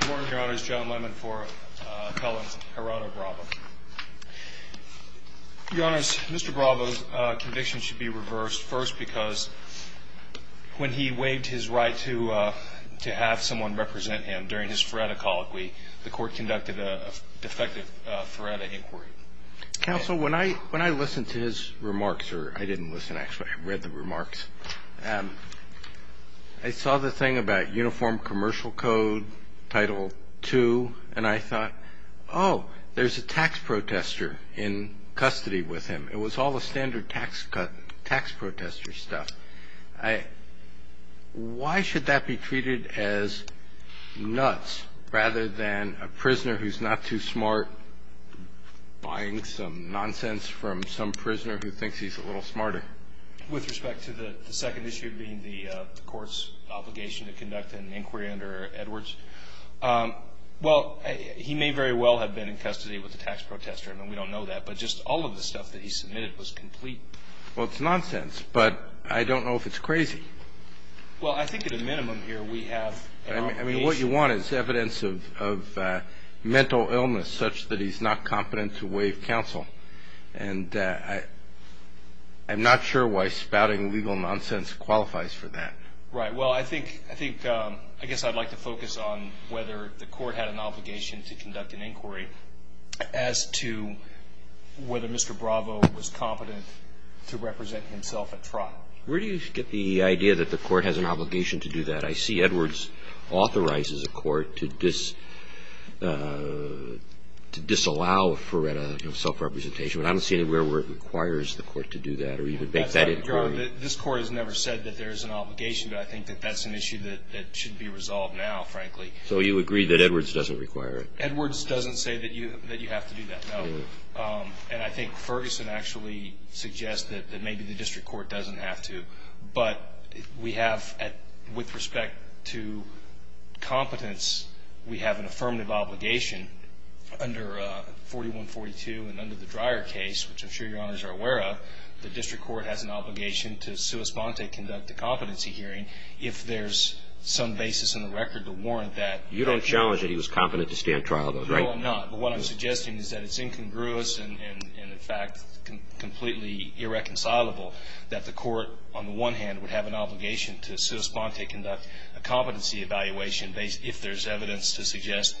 Good morning, your honors. John Lemon for felon Gerardo Bravo. Your honors, Mr. Bravo's conviction should be reversed first because when he waived his right to have someone represent him during his Feretta call the court conducted a defective Feretta inquiry. Counsel, when I listened to his remarks, or I didn't listen actually, I read the remarks, I saw the thing about Uniform Commercial Code, Title 2, and I thought, oh, there's a tax protester in custody with him. It was all the standard tax protester stuff. Why should that be treated as nuts rather than a prisoner who's not too smart buying some nonsense from some prisoner who thinks he's a little smarter? With respect to the second issue being the court's obligation to conduct an inquiry under Edwards, well, he may very well have been in custody with a tax protester. I mean, we don't know that, but just all of the stuff that he submitted was complete. Well, it's nonsense, but I don't know if it's crazy. Well, I think at a minimum here we have an obligation. What you want is evidence of mental illness such that he's not competent to waive counsel, and I'm not sure why spouting legal nonsense qualifies for that. Right. Well, I guess I'd like to focus on whether the court had an obligation to conduct an inquiry as to whether Mr. Bravo was competent to represent himself at trial. Where do you get the idea that the court has an obligation to do that? I see Edwards authorizes a court to disallow for self-representation, but I don't see anywhere where it requires the court to do that or even make that inquiry. Your Honor, this court has never said that there's an obligation, but I think that that's an issue that should be resolved now, frankly. So you agree that Edwards doesn't require it? Edwards doesn't say that you have to do that, no. And I think Ferguson actually suggests that maybe the district court doesn't have to, but we have, with respect to competence, we have an affirmative obligation under 4142 and under the Dreyer case, which I'm sure Your Honors are aware of, the district court has an obligation to sua sponte conduct a competency hearing if there's some basis in the record to warrant that. You don't challenge that he was competent to stand trial, though, right? No, I'm not. But what I'm suggesting is that it's incongruous and in fact completely irreconcilable that the court, on the one hand, would have an obligation to sua sponte conduct a competency evaluation if there's evidence to suggest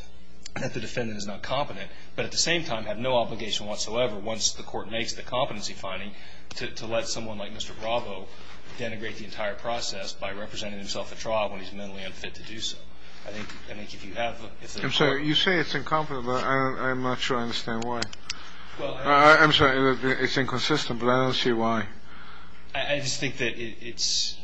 that the defendant is not competent, but at the same time have no obligation whatsoever, once the court makes the competency finding, to let someone like Mr. Bravo denigrate the entire process by representing himself at trial when he's mentally unfit to do so. I'm sorry, you say it's incongruous, but I'm not sure I understand why. I'm sorry, it's inconsistent, but I don't see why. I just think that it's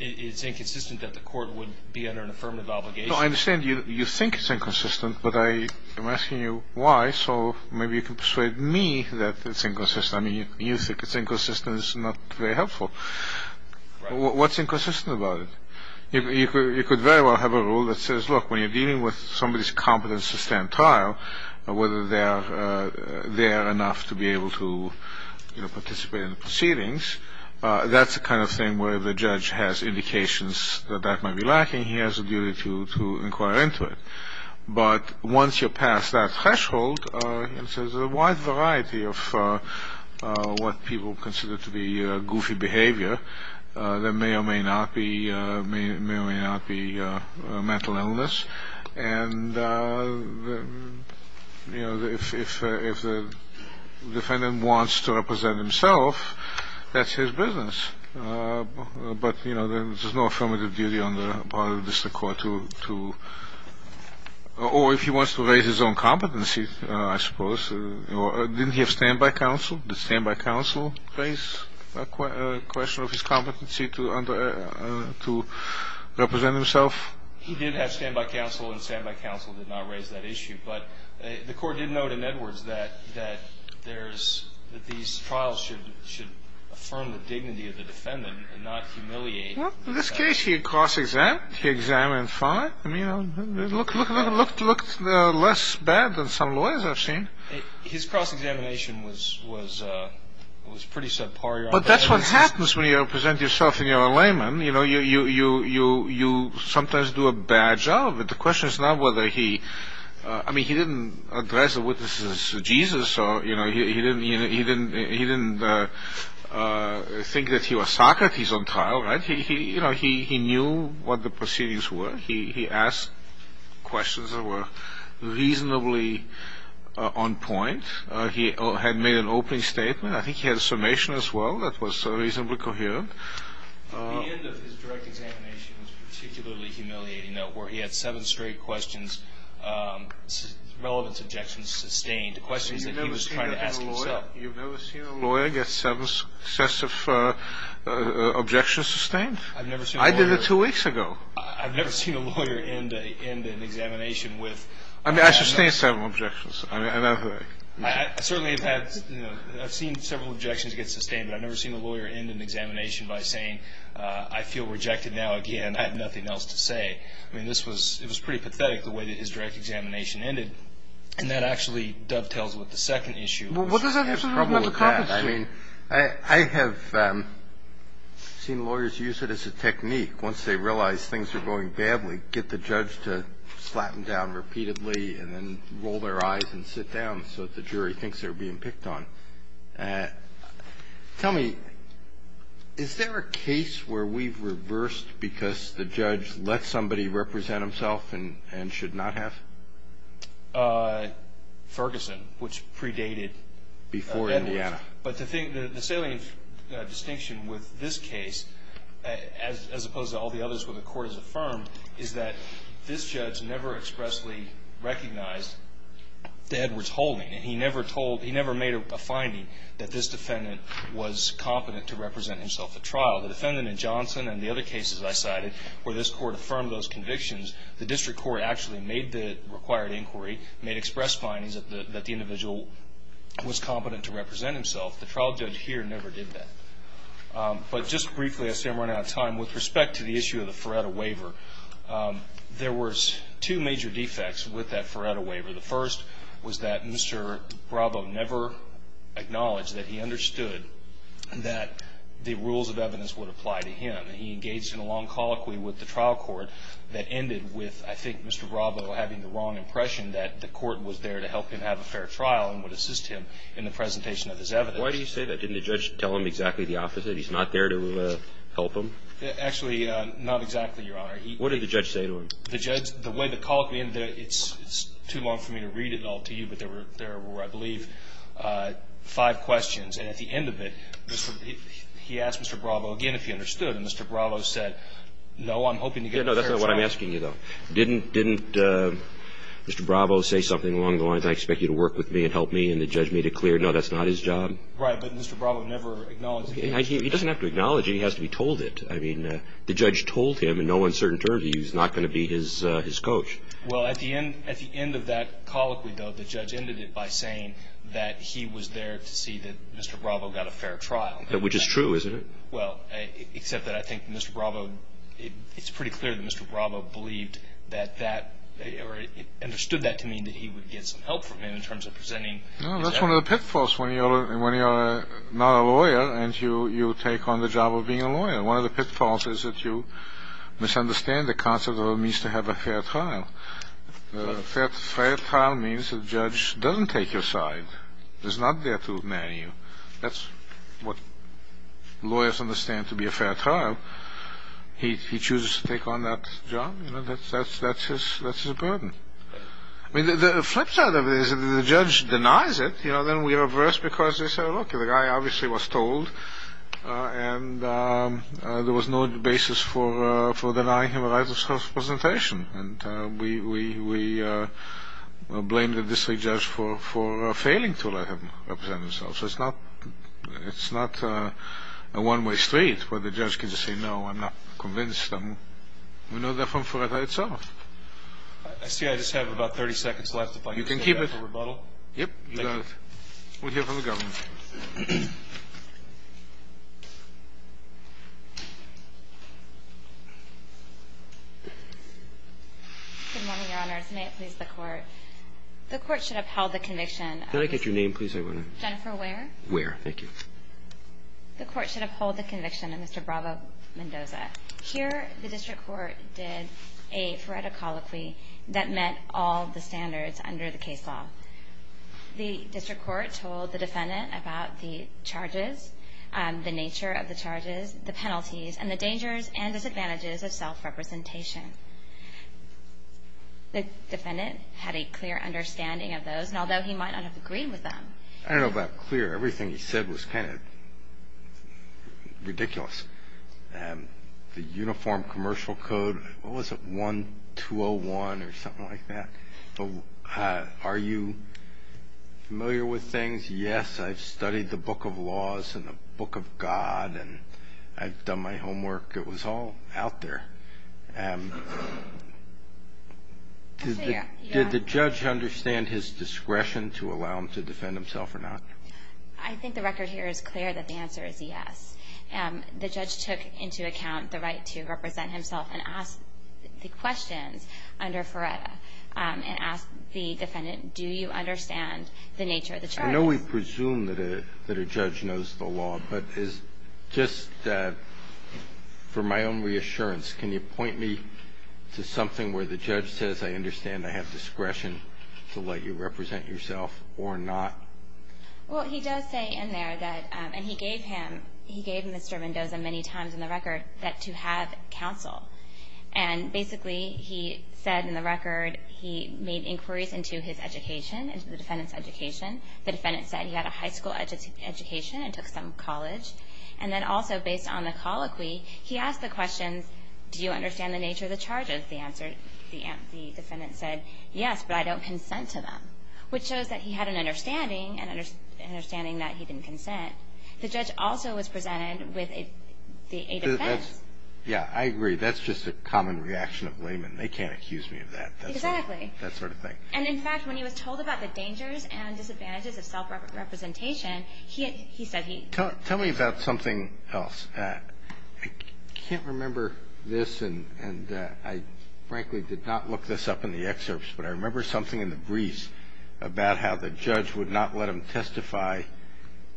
inconsistent that the court would be under an affirmative obligation. No, I understand you think it's inconsistent, but I am asking you why, so maybe you can persuade me that it's inconsistent. I mean, you think it's inconsistent is not very helpful. What's inconsistent about it? You could very well have a rule that says, look, when you're dealing with somebody's competence to stand trial, whether they're there enough to be able to participate in the proceedings, that's the kind of thing where the judge has indications that that might be lacking. He has a duty to inquire into it. But once you're past that threshold, there's a wide variety of what people consider to be goofy behavior that may or may not be mental illness. And, you know, if the defendant wants to represent himself, that's his business. But, you know, there's no affirmative duty on the part of the district court to, or if he wants to raise his own competency, I suppose. Didn't he have standby counsel? Did standby counsel raise a question of his competency to represent himself? He did have standby counsel, and standby counsel did not raise that issue. But the court did note in Edwards that these trials should affirm the dignity of the defendant and not humiliate. Well, in this case, he cross-examined. He examined fine. I mean, it looked less bad than some lawyers have seen. His cross-examination was pretty subpar. But that's what happens when you represent yourself and you're a layman. You know, you sometimes do a bad job. But the question is not whether he – I mean, he didn't address the witnesses as Jesus, or, you know, he didn't think that he was Socrates on trial, right? You know, he knew what the proceedings were. He asked questions that were reasonably on point. He had made an opening statement. I think he had a summation as well that was reasonably coherent. The end of his direct examination was particularly humiliating, though, where he had seven straight questions, relevant objections sustained, questions that he was trying to ask himself. You've never seen a lawyer get seven successive objections sustained? I've never seen a lawyer – I did it two weeks ago. I've never seen a lawyer end an examination with – I mean, I sustained several objections. I mean, I've – I certainly have had – I've seen several objections get sustained, but I've never seen a lawyer end an examination by saying, I feel rejected now again. I have nothing else to say. I mean, this was – it was pretty pathetic, the way that his direct examination ended. And that actually dovetails with the second issue. Well, what does that have to do with mental competency? I mean, I have seen lawyers use it as a technique. Once they realize things are going badly, get the judge to slap them down repeatedly and then roll their eyes and sit down so that the jury thinks they're being picked on. Tell me, is there a case where we've reversed because the judge let somebody represent himself and should not have? Ferguson, which predated Edwards. Before Indiana. But the salient distinction with this case, as opposed to all the others where the court has affirmed, is that this judge never expressly recognized the Edwards holding. He never told – he never made a finding that this defendant was competent to represent himself at trial. The defendant in Johnson and the other cases I cited where this court affirmed those convictions, the district court actually made the required inquiry, made express findings that the individual was competent to represent himself. The trial judge here never did that. But just briefly, I see I'm running out of time. With respect to the issue of the Feretta waiver, there were two major defects with that Feretta waiver. The first was that Mr. Bravo never acknowledged that he understood that the rules of evidence would apply to him. He engaged in a long colloquy with the trial court that ended with, I think, Mr. Bravo having the wrong impression that the court was there to help him have a fair trial and would assist him in the presentation of his evidence. Why do you say that? Didn't the judge tell him exactly the opposite? He's not there to help him? Actually, not exactly, Your Honor. What did the judge say to him? The judge – the way the colloquy ended, it's too long for me to read it all to you, but there were, I believe, five questions. And at the end of it, he asked Mr. Bravo again if he understood. And Mr. Bravo said, no, I'm hoping to get a fair trial. No, that's not what I'm asking you, though. Didn't Mr. Bravo say something along the lines, I expect you to work with me and help me, and the judge made it clear, no, that's not his job? Right. But Mr. Bravo never acknowledged that he understood. He doesn't have to acknowledge it. He has to be told it. I mean, the judge told him in no uncertain terms he was not going to be his coach. Well, at the end of that colloquy, though, the judge ended it by saying that he was there to see that Mr. Bravo got a fair trial. Which is true, isn't it? Well, except that I think Mr. Bravo, it's pretty clear that Mr. Bravo believed that that, or understood that to mean that he would get some help from him in terms of presenting his evidence. No, that's one of the pitfalls when you're not a lawyer and you take on the job of being a lawyer. One of the pitfalls is that you misunderstand the concept of what it means to have a fair trial. A fair trial means the judge doesn't take your side, is not there to marry you. That's what lawyers understand to be a fair trial. He chooses to take on that job. That's his burden. I mean, the flip side of it is if the judge denies it, then we reverse because they say, look, the guy obviously was told and there was no basis for denying him a right of self-presentation. And we blame the district judge for failing to let him represent himself. So it's not a one-way street where the judge can say, no, I'm not convinced. We know that from Fureta itself. I see I just have about 30 seconds left. You can keep it. We'll hear from the government. Good morning, Your Honors. May it please the Court. The Court should upheld the conviction. Can I get your name, please? Jennifer Ware. Ware. Thank you. The Court should uphold the conviction of Mr. Bravo Mendoza. Here the district court did a Fureta colloquy that met all the standards under the case law. The district court told the defendant about the charges, the nature of the charges, the penalties, and the dangers and disadvantages of self-representation. The defendant had a clear understanding of those, although he might not have agreed with them. I don't know about clear. Everything he said was kind of ridiculous. The uniform commercial code, what was it, 1201 or something like that? Are you familiar with things? Yes, I've studied the Book of Laws and the Book of God, and I've done my homework. It was all out there. Did the judge understand his discretion to allow him to defend himself or not? I think the record here is clear that the answer is yes. The judge took into account the right to represent himself and ask the questions under Fureta and ask the defendant, do you understand the nature of the charges? I know we presume that a judge knows the law, but just for my own reassurance, can you point me to something where the judge says, I understand I have discretion to let you represent yourself or not? Well, he does say in there that, and he gave him, he gave Mr. Mendoza many times in the record that to have counsel. And basically, he said in the record he made inquiries into his education, into the defendant's education. The defendant said he had a high school education and took some college. And then also based on the colloquy, he asked the question, do you understand the nature of the charges? The defendant said, yes, but I don't consent to them, which shows that he had an understanding, an understanding that he didn't consent. The judge also was presented with a defense. Yeah, I agree. That's just a common reaction of laymen. They can't accuse me of that. Exactly. That sort of thing. And in fact, when he was told about the dangers and disadvantages of self-representation, he said he Tell me about something else. I can't remember this, and I frankly did not look this up in the excerpts, but I remember something in the briefs about how the judge would not let him testify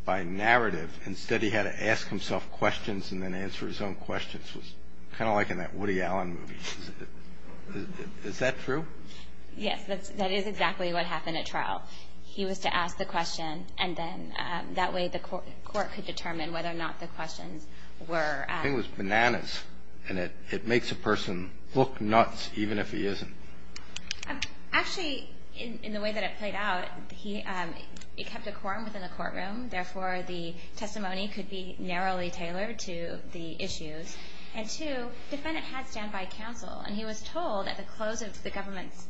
by narrative. Instead, he had to ask himself questions and then answer his own questions, kind of like in that Woody Allen movie. Is that true? Yes, that is exactly what happened at trial. He was to ask the question, and then that way the court could determine whether or not the questions were I think it was bananas, and it makes a person look nuts even if he isn't. Actually, in the way that it played out, he kept a quorum within the courtroom, therefore the testimony could be narrowly tailored to the issues. And two, the defendant had standby counsel, and he was told at the close of the government's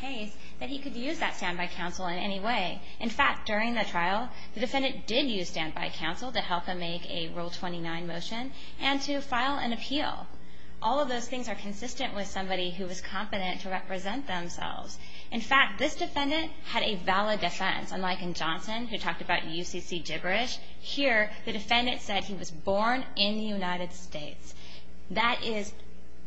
case that he could use that standby counsel in any way. In fact, during the trial, the defendant did use standby counsel to help him make a Rule 29 motion and to file an appeal. All of those things are consistent with somebody who is competent to represent themselves. In fact, this defendant had a valid defense. Unlike in Johnson, who talked about UCC gibberish, here the defendant said he was born in the United States. That is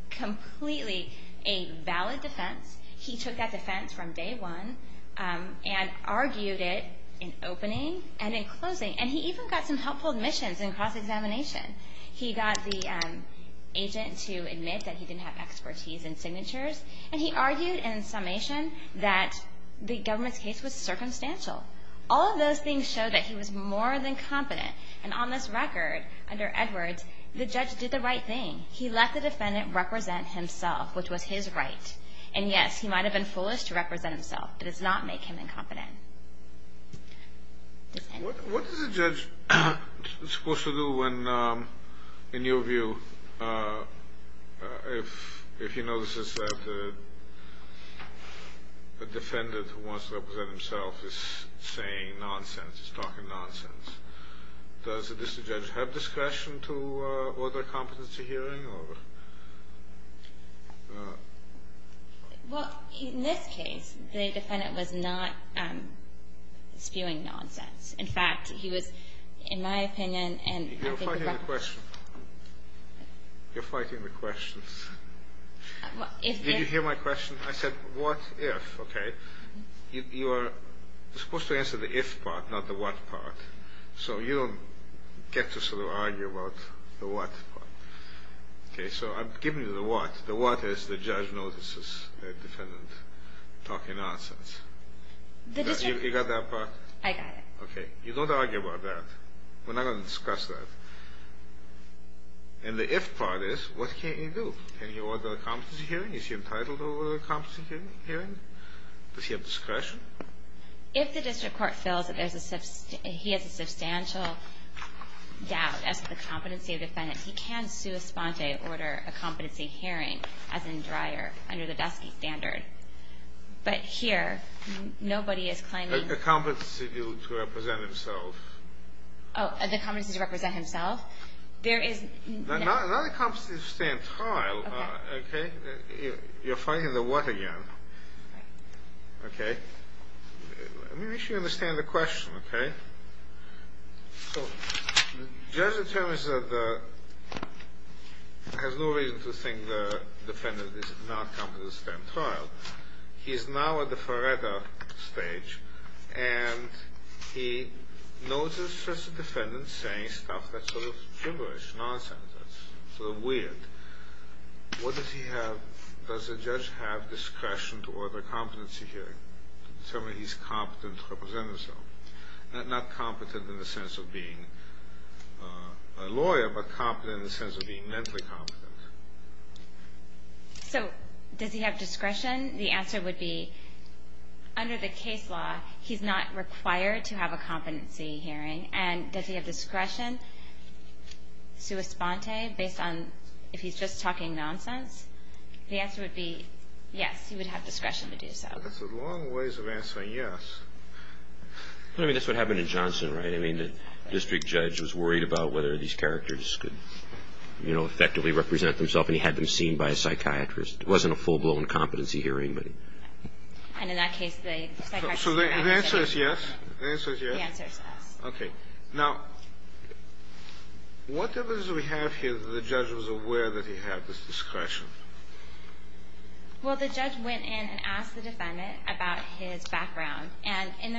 completely a valid defense. He took that defense from day one and argued it in opening and in closing, and he even got some helpful admissions in cross-examination. He got the agent to admit that he didn't have expertise in signatures, and he argued in summation that the government's case was circumstantial. All of those things show that he was more than competent. And on this record, under Edwards, the judge did the right thing. He let the defendant represent himself, which was his right. And, yes, he might have been foolish to represent himself, but it does not make him incompetent. What is a judge supposed to do when, in your view, if he notices that a defendant who wants to represent himself is saying nonsense, is talking nonsense, does the district judge have discretion to order a competency hearing or? Well, in this case, the defendant was not spewing nonsense. In fact, he was, in my opinion, and I think the government ---- You're fighting the question. You're fighting the questions. Did you hear my question? I said, what if, okay? You are supposed to answer the if part, not the what part. So you don't get to sort of argue about the what part. Okay? So I'm giving you the what. The what is the judge notices the defendant talking nonsense. You got that part? I got it. Okay. You don't argue about that. We're not going to discuss that. And the if part is, what can he do? Can he order a competency hearing? Is he entitled to order a competency hearing? Does he have discretion? If the district court feels that there's a ---- he has a substantial doubt as to the competency of the defendant, he can sua sponte order a competency hearing, as in Dreyer, under the Dusky standard. But here, nobody is claiming ---- A competency to represent himself. Oh, the competency to represent himself? There is ---- Not a competency to stand trial. Okay. You're fighting the what again. Right. Okay. Let me make sure you understand the question. Okay? So the judge determines that the ---- has no reason to think the defendant is not competent to stand trial. He is now at the Faretta stage. And he notices the defendant saying stuff that's sort of gibberish, nonsense, sort of weird. What does he have? Does the judge have discretion to order a competency hearing to determine he's competent to represent himself? Not competent in the sense of being a lawyer, but competent in the sense of being mentally competent. So does he have discretion? The answer would be, under the case law, he's not required to have a competency hearing. And does he have discretion, sua sponte, based on if he's just talking nonsense? The answer would be yes, he would have discretion to do so. That's a long ways of answering yes. I mean, that's what happened in Johnson, right? I mean, the district judge was worried about whether these characters could, you know, effectively represent themselves. And he had them seen by a psychiatrist. It wasn't a full-blown competency hearing, but ---- And in that case, the psychiatrist ---- So the answer is yes? The answer is yes. Okay. Now, what evidence do we have here that the judge was aware that he had this discretion? Well, the judge went in and asked the defendant about his background. And in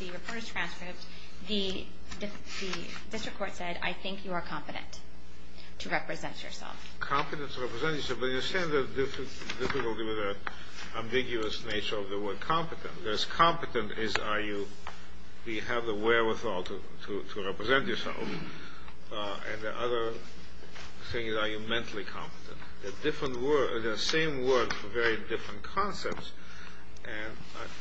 the reporter's transcript, the district court said, I think you are competent to represent yourself. Competent to represent yourself. But you're saying there's a difficulty with that ambiguous nature of the word competent. As competent as are you, do you have the wherewithal to represent yourself? And the other thing is, are you mentally competent? They're different words. They're the same word for very different concepts. And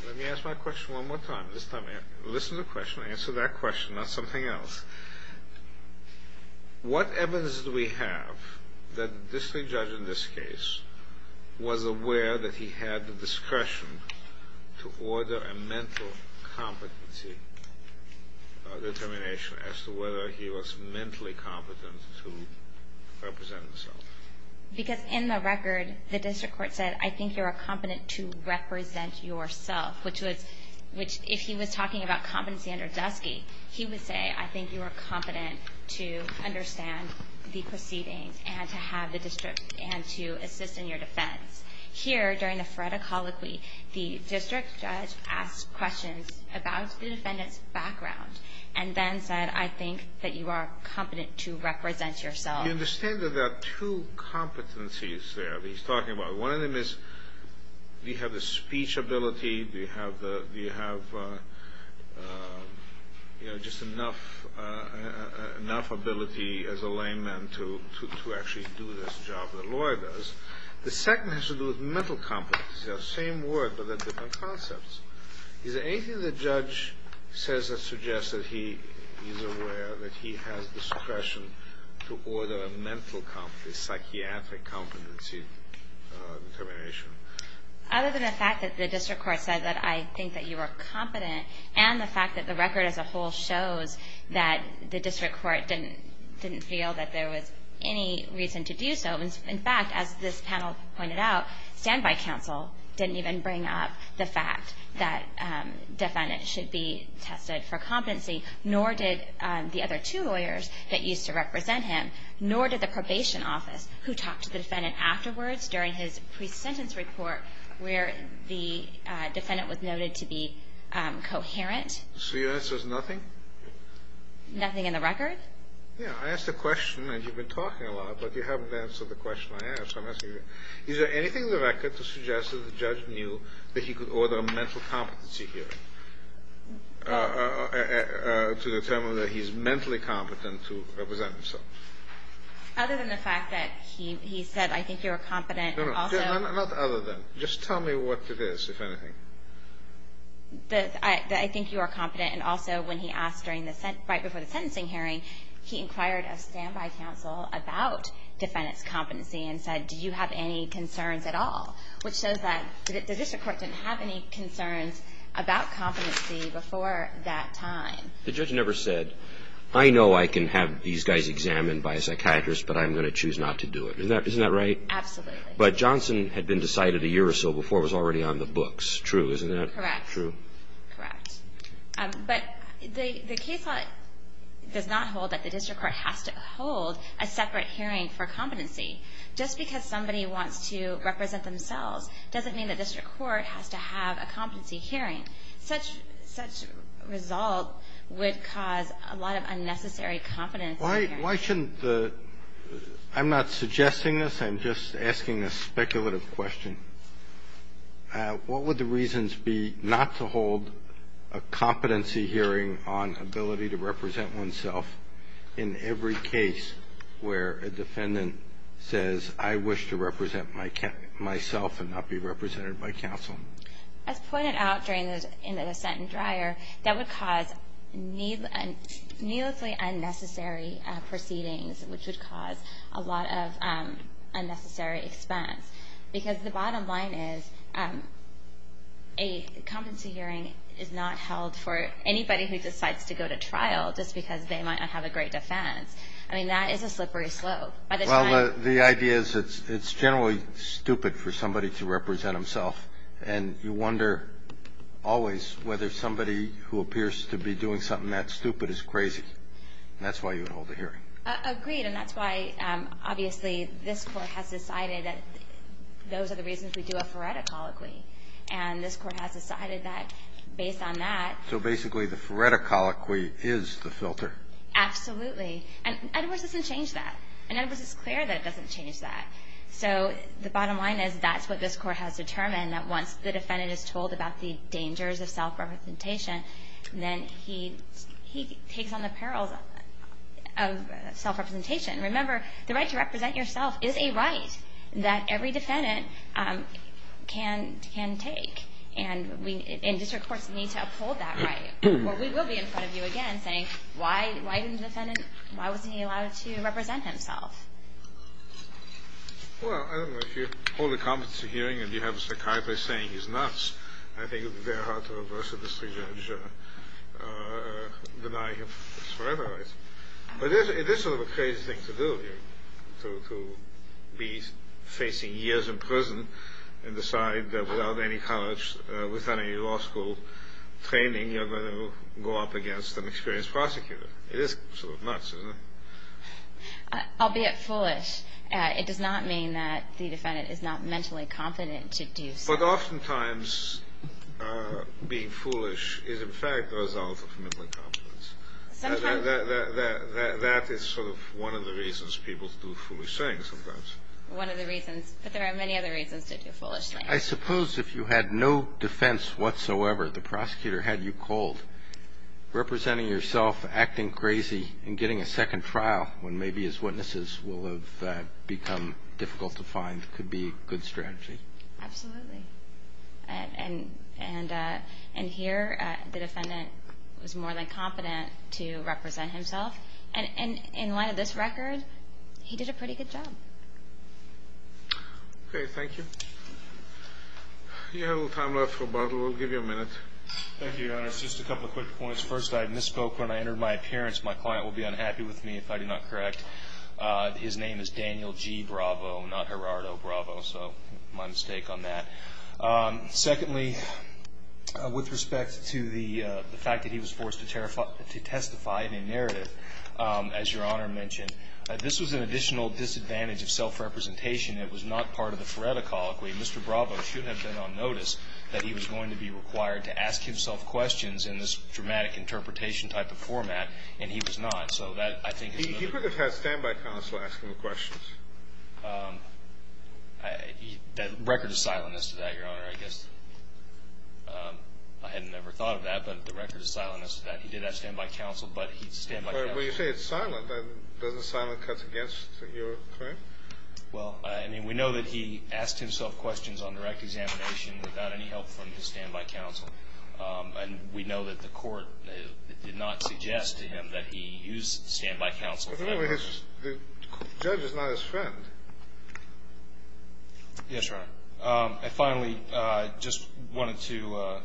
let me ask my question one more time. This time, listen to the question. Answer that question, not something else. What evidence do we have that the district judge in this case was aware that he had the discretion to order a mental competency determination as to whether he was mentally competent to represent himself? Because in the record, the district court said, I think you're competent to represent yourself. If he was talking about competency under Dusky, he would say, I think you are competent to understand the proceedings and to assist in your defense. Here, during the phoreticology, the district judge asked questions about the defendant's background and then said, I think that you are competent to represent yourself. You understand that there are two competencies there that he's talking about. One of them is, do you have the speech ability? Do you have just enough ability as a layman to actually do this job that Laura does? The second has to do with mental competence. They're the same word, but they're different concepts. Is there anything the judge says that suggests that he is aware that he has the discretion to order a mental competency, psychiatric competency determination? Other than the fact that the district court said that I think that you are competent and the fact that the record as a whole shows that the district court didn't feel that there was any reason to do so. In fact, as this panel pointed out, standby counsel didn't even bring up the fact that defendant should be tested for competency, nor did the other two lawyers that used to represent him, nor did the probation office who talked to the defendant afterwards during his pre-sentence report where the defendant was noted to be coherent. So your answer is nothing? Nothing in the record. Yeah, I asked a question, and you've been talking a lot, but you haven't answered the question I asked. Is there anything in the record to suggest that the judge knew that he could order a mental competency hearing to determine that he's mentally competent to represent himself? Other than the fact that he said, I think you are competent. No, no, not other than. I think you are competent, and also when he asked right before the sentencing hearing, he inquired a standby counsel about defendant's competency and said, do you have any concerns at all? Which shows that the district court didn't have any concerns about competency before that time. The judge never said, I know I can have these guys examined by a psychiatrist, but I'm going to choose not to do it. Isn't that right? Absolutely. But Johnson had been decided a year or so before. It was already on the books. True, isn't that true? Correct. Correct. But the case law does not hold that the district court has to hold a separate hearing for competency. Just because somebody wants to represent themselves doesn't mean the district court has to have a competency hearing. Such a result would cause a lot of unnecessary competence. Why shouldn't the – I'm not suggesting this. I'm just asking a speculative question. What would the reasons be not to hold a competency hearing on ability to represent oneself in every case where a defendant says, I wish to represent myself and not be represented by counsel? As pointed out in the dissent in Dreyer, that would cause needlessly unnecessary proceedings, which would cause a lot of unnecessary expense. Because the bottom line is a competency hearing is not held for anybody who decides to go to trial just because they might not have a great defense. I mean, that is a slippery slope. Well, the idea is it's generally stupid for somebody to represent himself. And you wonder always whether somebody who appears to be doing something that stupid is crazy. And that's why you would hold a hearing. Agreed. And that's why, obviously, this Court has decided that those are the reasons we do a phoreticoloquy. And this Court has decided that based on that – So basically the phoreticoloquy is the filter. Absolutely. And Edwards doesn't change that. And Edwards is clear that it doesn't change that. So the bottom line is that's what this Court has determined, that once the defendant is told about the dangers of self-representation, then he takes on the perils of self-representation. Remember, the right to represent yourself is a right that every defendant can take. And district courts need to uphold that right. Well, we will be in front of you again saying, why didn't the defendant – why wasn't he allowed to represent himself? Well, I don't know. If you hold a competency hearing and you have a psychiatrist saying he's nuts, I think it would be very hard to reverse a misjudge, deny him his forever rights. But it is sort of a crazy thing to do, to be facing years in prison and decide that without any college, without any law school training, you're going to go up against an experienced prosecutor. It is sort of nuts, isn't it? Albeit foolish, it does not mean that the defendant is not mentally confident to do so. But oftentimes being foolish is, in fact, the result of mental incompetence. That is sort of one of the reasons people do foolish things sometimes. One of the reasons. But there are many other reasons to do foolish things. I suppose if you had no defense whatsoever, the prosecutor had you cold, representing yourself, acting crazy, and getting a second trial, when maybe his witnesses will have become difficult to find, could be a good strategy. Absolutely. And here the defendant was more than competent to represent himself. And in light of this record, he did a pretty good job. Okay. Thank you. You have a little time left, Roberto. We'll give you a minute. Thank you, Your Honor. It's just a couple of quick points. First, I misspoke when I entered my appearance. My client will be unhappy with me if I do not correct. His name is Daniel G. Bravo, not Gerardo Bravo, so my mistake on that. Secondly, with respect to the fact that he was forced to testify in a narrative, as Your Honor mentioned, this was an additional disadvantage of self-representation. It was not part of the Feretta Colloquy. Mr. Bravo should have been on notice that he was going to be required to ask himself questions in this dramatic interpretation type of format, and he was not. So that, I think, is a little bit of a problem. He could have had standby counsel ask him questions. That record is silent as to that, Your Honor, I guess. I hadn't ever thought of that, but the record is silent as to that. He did have standby counsel, but he's standby counsel. Well, you say it's silent. Doesn't silent cut against your claim? Well, I mean, we know that he asked himself questions on direct examination without any help from his standby counsel. And we know that the Court did not suggest to him that he use standby counsel. But the judge is not his friend. Yes, Your Honor. I finally just wanted to,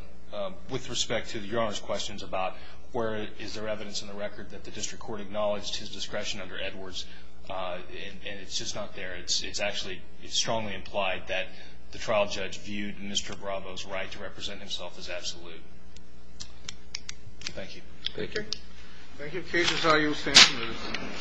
with respect to Your Honor's questions about where is there evidence in the record that the district court acknowledged his discretion under Edwards, and it's just not there. It's actually strongly implied that the trial judge viewed Mr. Bravo's right to represent himself as absolute. Thank you. Thank you.